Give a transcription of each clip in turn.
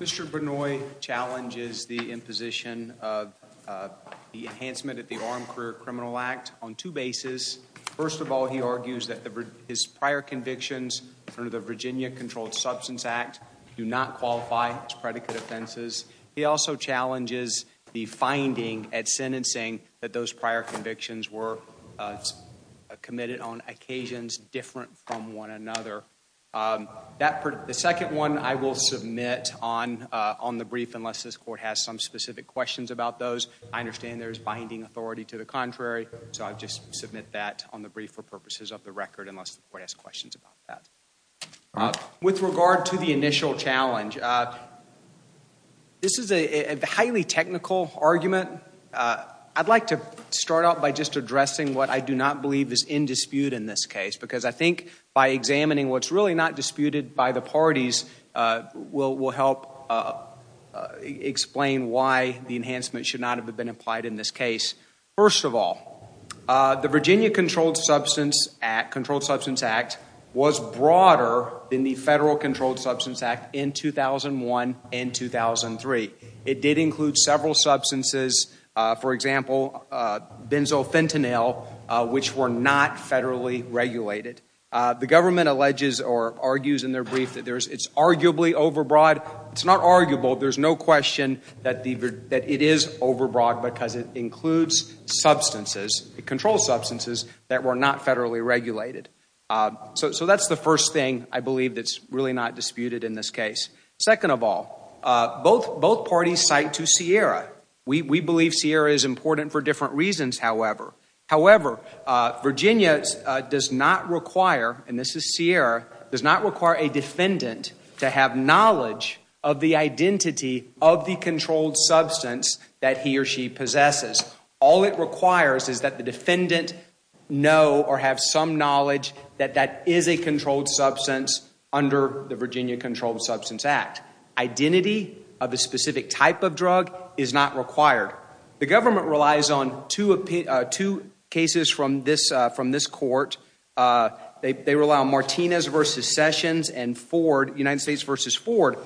Mr. Vanoy challenges the imposition of the enhancement at the Armed Career Criminal Act on two bases. First of all, he argues that his prior convictions under the Virginia Controlled Substance Act do not qualify as predicate offenses. He also challenges the finding at committed on occasions different from one another. The second one I will submit on the brief unless this court has some specific questions about those. I understand there is binding authority to the contrary, so I'll just submit that on the brief for purposes of the record unless the court has questions about that. With regard to the initial challenge, this is a highly technical argument. I'd like to start out by just addressing what I do not believe is in dispute in this case because I think by examining what's really not disputed by the parties will help explain why the enhancement should not have been applied in this case. First of all, the Virginia Controlled Substance Act was broader than the Federal Controlled Substance Act in 2001 and 2003. It did include several substances, for example, benzofentanyl, which were not federally regulated. The government alleges or argues in their brief that it's arguably overbroad. It's not arguable. There's no question that it is overbroad because it includes substances, it controls substances that were not federally regulated. So that's the first thing I believe that's really not disputed in this case. Second of all, both parties cite to Sierra. We believe Sierra is important for different reasons, however. However, Virginia does not require, and this is Sierra, does not require a defendant to have knowledge of the identity of the controlled substance that he or she possesses. All it requires is that the defendant know or have some knowledge that that is a controlled substance under the Virginia Controlled Substance Act. Identity of a specific type of drug is not required. The government relies on two cases from this court. They rely on Martinez v. Sessions and Ford, United States v. Ford.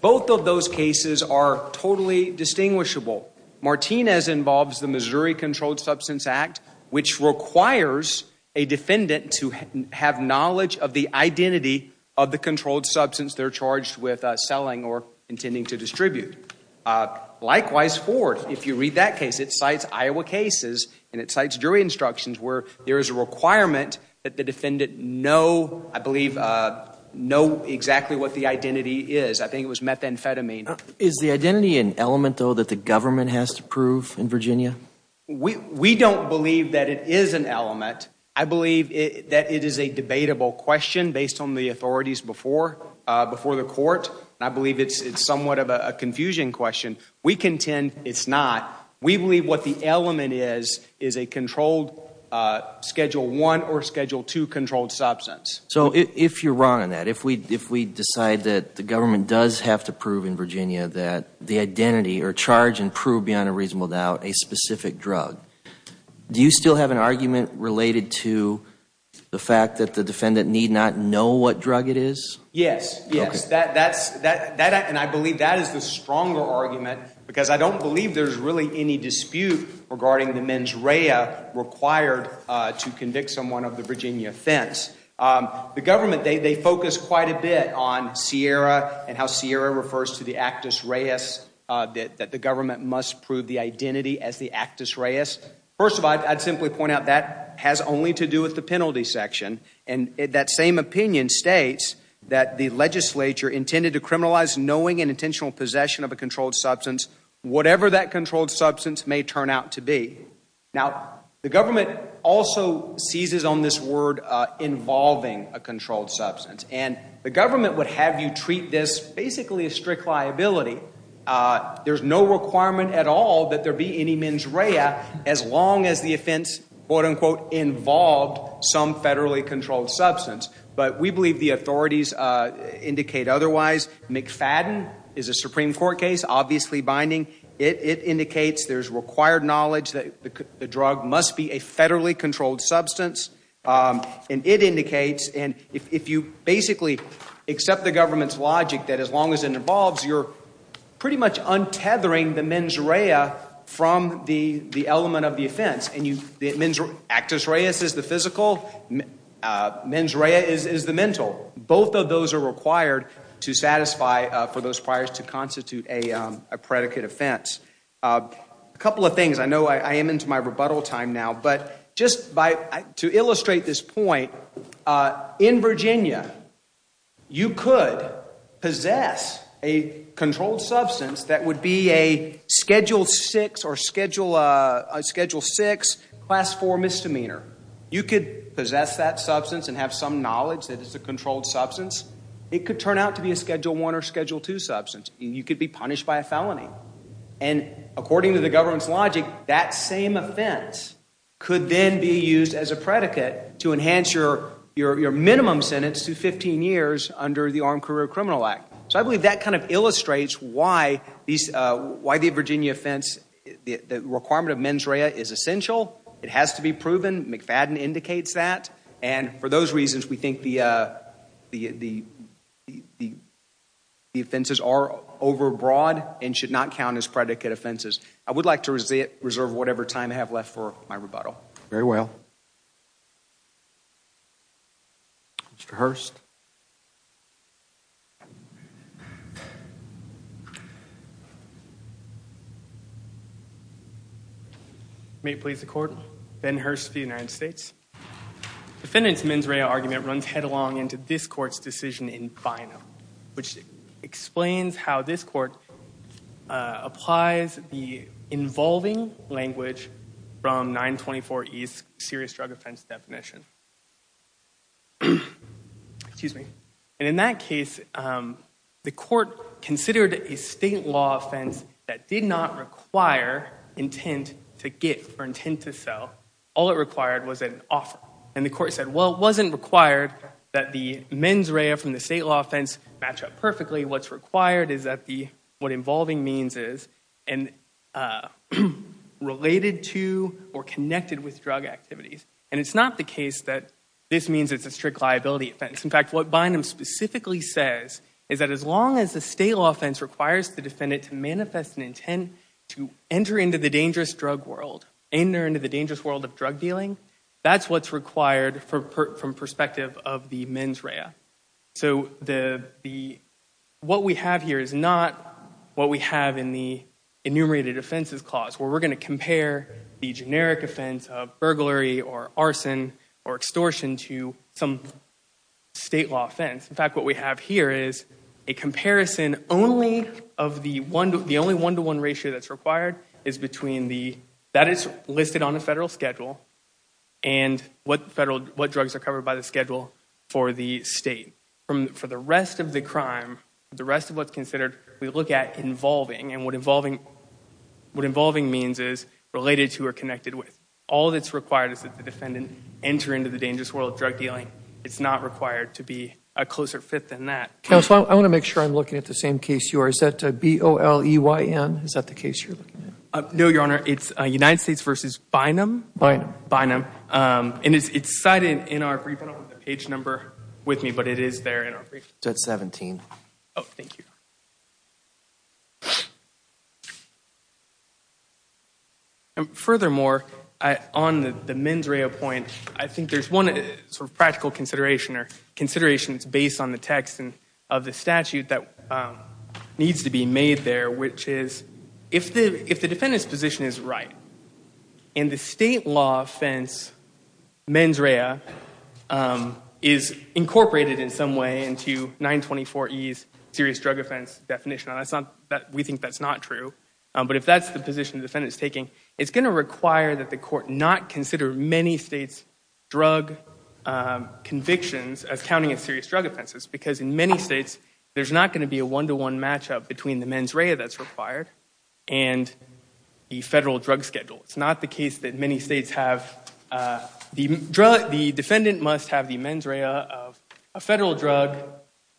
Both of those cases are totally distinguishable. Martinez involves the Missouri Controlled Substance Act. It requires a defendant to have knowledge of the identity of the controlled substance they're charged with selling or intending to distribute. Likewise, Ford, if you read that case, it cites Iowa cases and it cites jury instructions where there is a requirement that the defendant know, I believe, know exactly what the identity is. I think it was methamphetamine. Is the identity an element though that the government has to prove in Virginia? We don't believe that it is an element. I believe that it is a debatable question based on the authorities before the court. I believe it's somewhat of a confusion question. We contend it's not. We believe what the element is is a controlled Schedule I or Schedule II controlled substance. So if you're wrong on that, if we decide that the government does have to the identity or charge and prove beyond a reasonable doubt a specific drug, do you still have an argument related to the fact that the defendant need not know what drug it is? Yes, yes. And I believe that is the stronger argument because I don't believe there's really any dispute regarding the mens rea required to convict someone of the Virginia offense. The government, they focus quite a bit on Sierra and how Sierra refers to the Actus Reus that the government must prove the identity as the Actus Reus. First of all, I'd simply point out that has only to do with the penalty section. And that same opinion states that the legislature intended to criminalize knowing and intentional possession of a controlled substance, whatever that controlled a controlled substance. And the government would have you treat this basically a strict liability. There's no requirement at all that there be any mens rea as long as the offense, quote unquote, involved some federally controlled substance. But we believe the authorities indicate otherwise. McFadden is a Supreme Court case, obviously binding. It indicates there's required knowledge that the drug must be a federally controlled substance. And it indicates, and if you basically accept the government's logic that as long as it involves, you're pretty much untethering the mens rea from the element of the offense. And the Actus Reus is the physical, mens rea is the mental. Both of those are required to satisfy for those things. I know I am into my rebuttal time now. But just to illustrate this point, in Virginia, you could possess a controlled substance that would be a Schedule 6 or Schedule 6 Class 4 misdemeanor. You could possess that substance and have some knowledge that it's a controlled substance. It could turn out to be a Schedule 1 or Schedule 2 substance. You could be punished by a felony. And according to the government's logic, that same offense could then be used as a predicate to enhance your minimum sentence to 15 years under the Armed Career Criminal Act. So I believe that kind of illustrates why the Virginia offense, the requirement of mens rea is essential. It has to be proven. McFadden indicates that. And for those reasons, we think the offenses are overbroad and should not count as predicate offenses. I would like to reserve whatever time I have left for my rebuttal. Very well. Mr. Hurst. May it please the Court, Ben Hurst of the United States. Defendant's mens rea argument runs headlong into this Court's decision in BINO, which explains how this Court applies the involving language from 924E's serious drug offense definition. Excuse me. And in that case, the Court considered a state law offense that did not require intent to give or intent to sell. All it required was an offer. And the Court said, well, it wasn't required that the mens rea from the state law offense match up perfectly. What's required is that what involving means is related to or connected with drug activities. And it's not the case that this means it's a strict liability offense. In fact, what BINO specifically says is that as long as the state law offense requires the defendant to manifest an intent to enter into the dangerous drug world, enter into the dangerous world of drug dealing, that's what's required from perspective of the mens rea. So what we have here is not what we have in the enumerated offenses clause, where we're going to compare the generic offense of burglary or arson or extortion to some state law offense. In fact, what we have here is a comparison. The only one-to-one ratio that's required is between the, that is listed on the federal schedule, and what drugs are covered by the schedule for the state. For the rest of the crime, the rest of what's considered, we look at involving. And what involving means is related to or connected with. All that's required is that the defendant enter into the dangerous world of drug dealing. It's not required to be a closer fit than that. Counsel, I want to make sure I'm looking at the same case you are. Is that B-O-L-E-Y-N? Is that the case you're looking at? No, Your Honor. It's United States v. Bynum. Bynum. Bynum. And it's cited in our brief. I don't have the page number with me, but it is there in our brief. It's at 17. Oh, thank you. And furthermore, on the mens rea point, I think there's one sort of practical consideration or statute that needs to be made there, which is, if the defendant's position is right, and the state law offense mens rea is incorporated in some way into 924E's serious drug offense definition, and we think that's not true, but if that's the position the defendant's taking, it's going to require that the court not consider many states' drug convictions as state law. In many states, there's not going to be a one-to-one matchup between the mens rea that's required and the federal drug schedule. It's not the case that many states have the drug, the defendant must have the mens rea of a federal drug,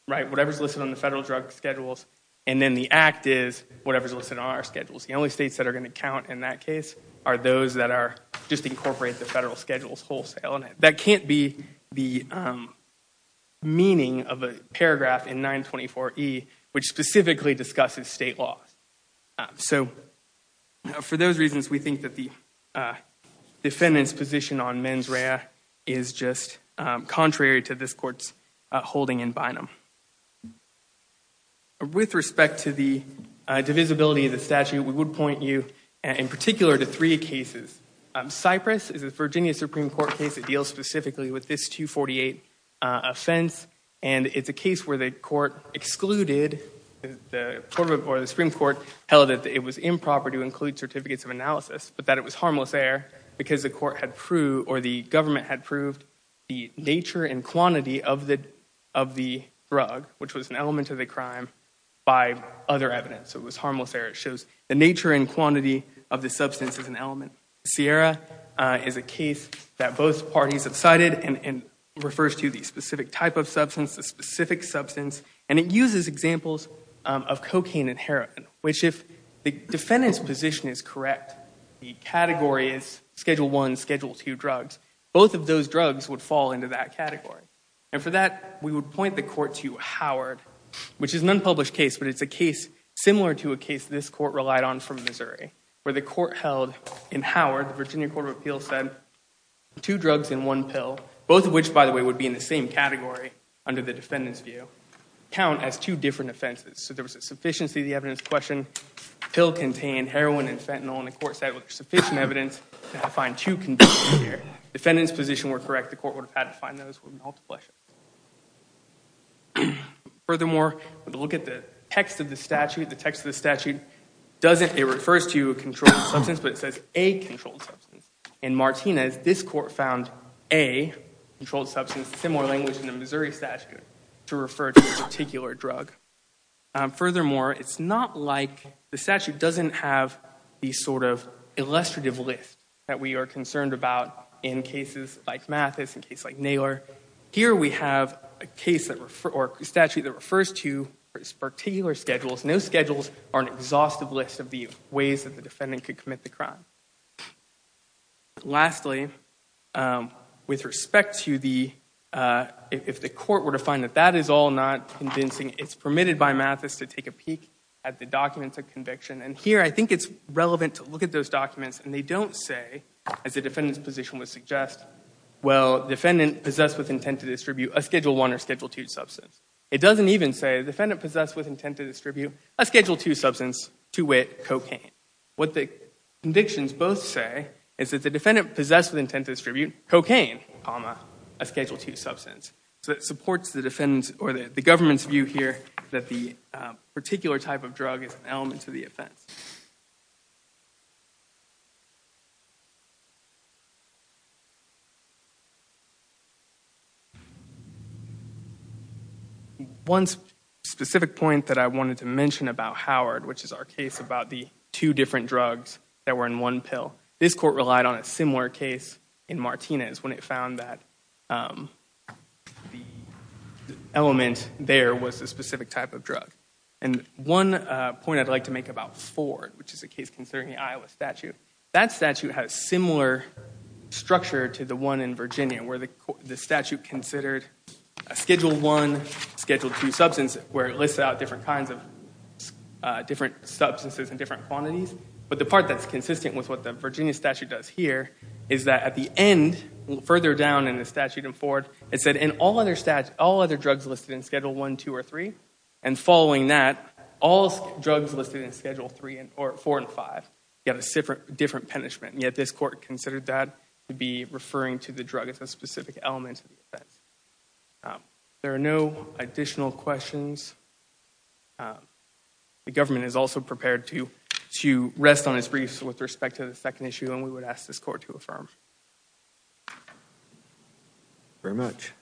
right, whatever's listed on the federal drug schedules, and then the act is whatever's listed on our schedules. The only states that are going to count in that case are those that are just incorporate the federal schedules wholesale, and that can't be the meaning of a paragraph in 924E which specifically discusses state law. So for those reasons, we think that the defendant's position on mens rea is just contrary to this court's holding in binum. With respect to the divisibility of the statute, we would point you, in particular, to three cases. Cypress is a Virginia Supreme Court case that deals specifically with this 248 offense, and it's a case where the Supreme Court held that it was improper to include certificates of analysis, but that it was harmless error because the government had proved the nature and quantity of the drug, which was an element of the crime, by other evidence. So it was harmless error. It shows the nature and quantity of the substance as an element. Sierra is a case that both parties have cited and refers to the specific type of substance, the specific substance, and it uses examples of cocaine and heroin, which if the defendant's position is correct, the category is schedule one, schedule two drugs, both of those drugs would fall into that category. And for that, we would point the court to Howard, which is an unpublished case, but it's a case similar to a case this court relied on from Missouri, where the court held in Howard, the Virginia Court of Appeals said two drugs and one pill, both of which, by the way, would be in the same category under the defendant's view, count as two different offenses. So there was a sufficiency of the evidence question, pill contained heroin and fentanyl, and the court said with sufficient evidence to find two conditions here, defendant's position were correct, the court would have had to find those with multiple evidence. Furthermore, look at the text of the statute, the text of the statute doesn't, it refers to a controlled substance, but it says a controlled substance. In Martinez, this court found a controlled substance, similar language in the Missouri statute, to refer to a particular drug. Furthermore, it's not like the statute doesn't have the sort of here we have a case that, or a statute that refers to particular schedules, no schedules are an exhaustive list of the ways that the defendant could commit the crime. Lastly, with respect to the, if the court were to find that that is all not convincing, it's permitted by Mathis to take a peek at the documents of conviction, and here I think it's relevant to look at those documents, and they don't say, as the defendant's position would suggest, well, defendant possessed with intent to distribute a Schedule I or Schedule II substance. It doesn't even say, defendant possessed with intent to distribute a Schedule II substance, to wit, cocaine. What the convictions both say is that the defendant possessed with intent to distribute cocaine, comma, a Schedule II substance. So it supports the defendant's, or the government's view here, that the particular type of drug is an element to the offense. One specific point that I wanted to mention about Howard, which is our case about the two different drugs that were in one pill, this court relied on a similar case in Martinez when it found that the element there was a specific type of drug. And one point I'd like to make about Ford, which is a case concerning the Iowa statute, that statute has similar structure to one in Virginia, where the statute considered a Schedule I, Schedule II substance, where it lists out different kinds of different substances in different quantities. But the part that's consistent with what the Virginia statute does here, is that at the end, further down in the statute in Ford, it said, in all other drugs listed in Schedule I, II, or III, and following that, all drugs listed in Schedule III, or IV, and V, get a different punishment. Yet this court considered that to be referring to the drug as a specific element of the offense. There are no additional questions. The government is also prepared to rest on its briefs with respect to the second issue, and we would ask this court to affirm. Very much.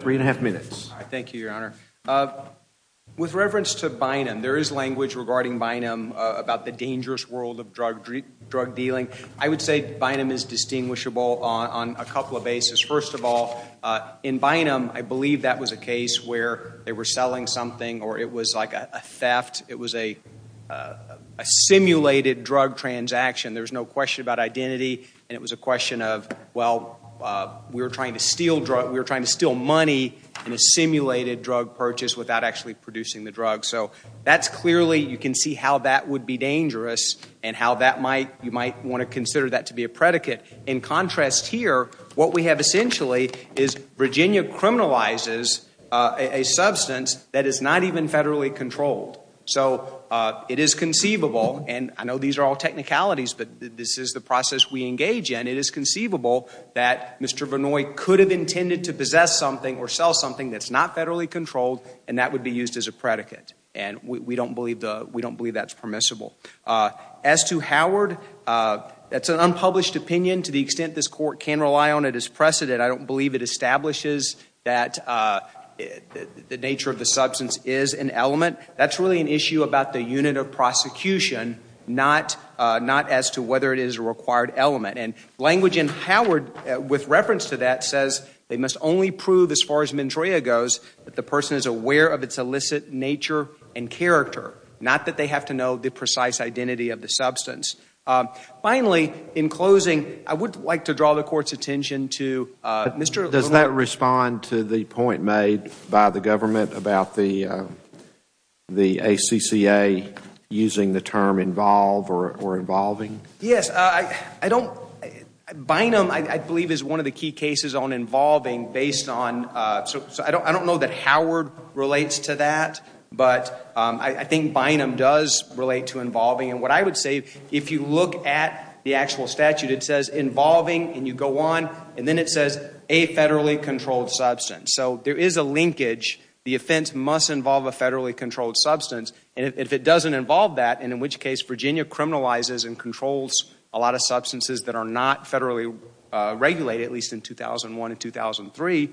Three and a half minutes. Thank you, Your Honor. With reference to Bynum, there is language regarding Bynum about the dangerous world of drug dealing. I would say Bynum is distinguishable on a couple of bases. First of all, in Bynum, I believe that was a case where they were selling something, or it was like a theft. It was a simulated drug transaction. There's no question about identity, and it was a question of, well, we were trying to steal money in a simulated drug purchase without actually producing the drug. So that's clearly, you can see how that would be dangerous, and how you might want to consider that to be a predicate. In contrast here, what we have essentially is Virginia criminalizes a substance that is not even federally controlled. So it is conceivable, and I know these are all technicalities, but this is the process we engage in. It is conceivable that Mr. Vinoy could have intended to possess something or sell something that's not federally controlled, and that would be used as a predicate, and we don't believe that's permissible. As to Howard, that's an unpublished opinion to the court, can rely on it as precedent. I don't believe it establishes that the nature of the substance is an element. That's really an issue about the unit of prosecution, not as to whether it is a required element. And language in Howard, with reference to that, says they must only prove, as far as Mandrea goes, that the person is aware of its illicit nature and character, not that they have to know the precise identity of the substance. Finally, in closing, I would like to draw the court's attention to... Does that respond to the point made by the government about the ACCA using the term involve or involving? Yes. Bynum, I believe, is one of the key cases on involving based on... I don't know that Howard relates to that, but I think Bynum does relate to involving. And what I would say, if you look at the actual statute, it says involving and you go on, and then it says a federally controlled substance. So there is a linkage. The offense must involve a federally controlled substance, and if it doesn't involve that, and in which case Virginia criminalizes and controls a lot of substances that are not federally regulated, at least in 2001 and 2003,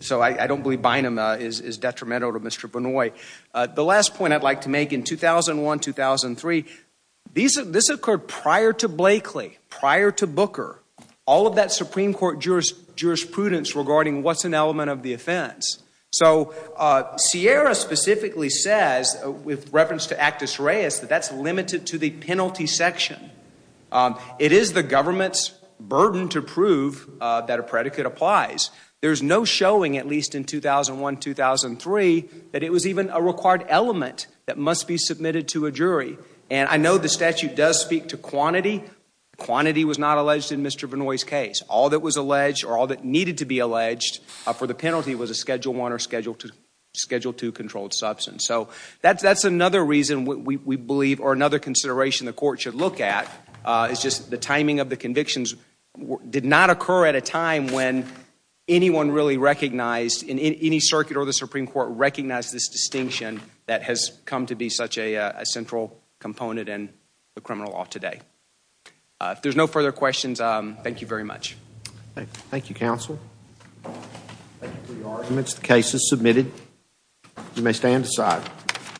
so I don't believe Bynum is detrimental to Mr. Benoit. The last point I'd like to make in 2001-2003, this occurred prior to Blakely, prior to Booker, all of that Supreme Court jurisprudence regarding what's an element of the offense. So Sierra specifically says, with reference to Actus Reis, that that's limited to the penalty section. It is the government's burden to prove that a predicate applies. There's no showing, at least in 2001-2003, that it was even a required element that must be submitted to a jury. And I know the statute does speak to quantity. Quantity was not alleged in Mr. Benoit's case. All that was alleged or all that needed to be alleged for the penalty was a Schedule I or Schedule II controlled substance. So that's another reason we believe, or another consideration the court should look at, is just the timing of the convictions did not occur at a time when anyone really recognized, in any circuit or the that has come to be such a central component in the criminal law today. If there's no further questions, thank you very much. Thank you, counsel. Thank you for your arguments. The case is submitted. You may stand aside.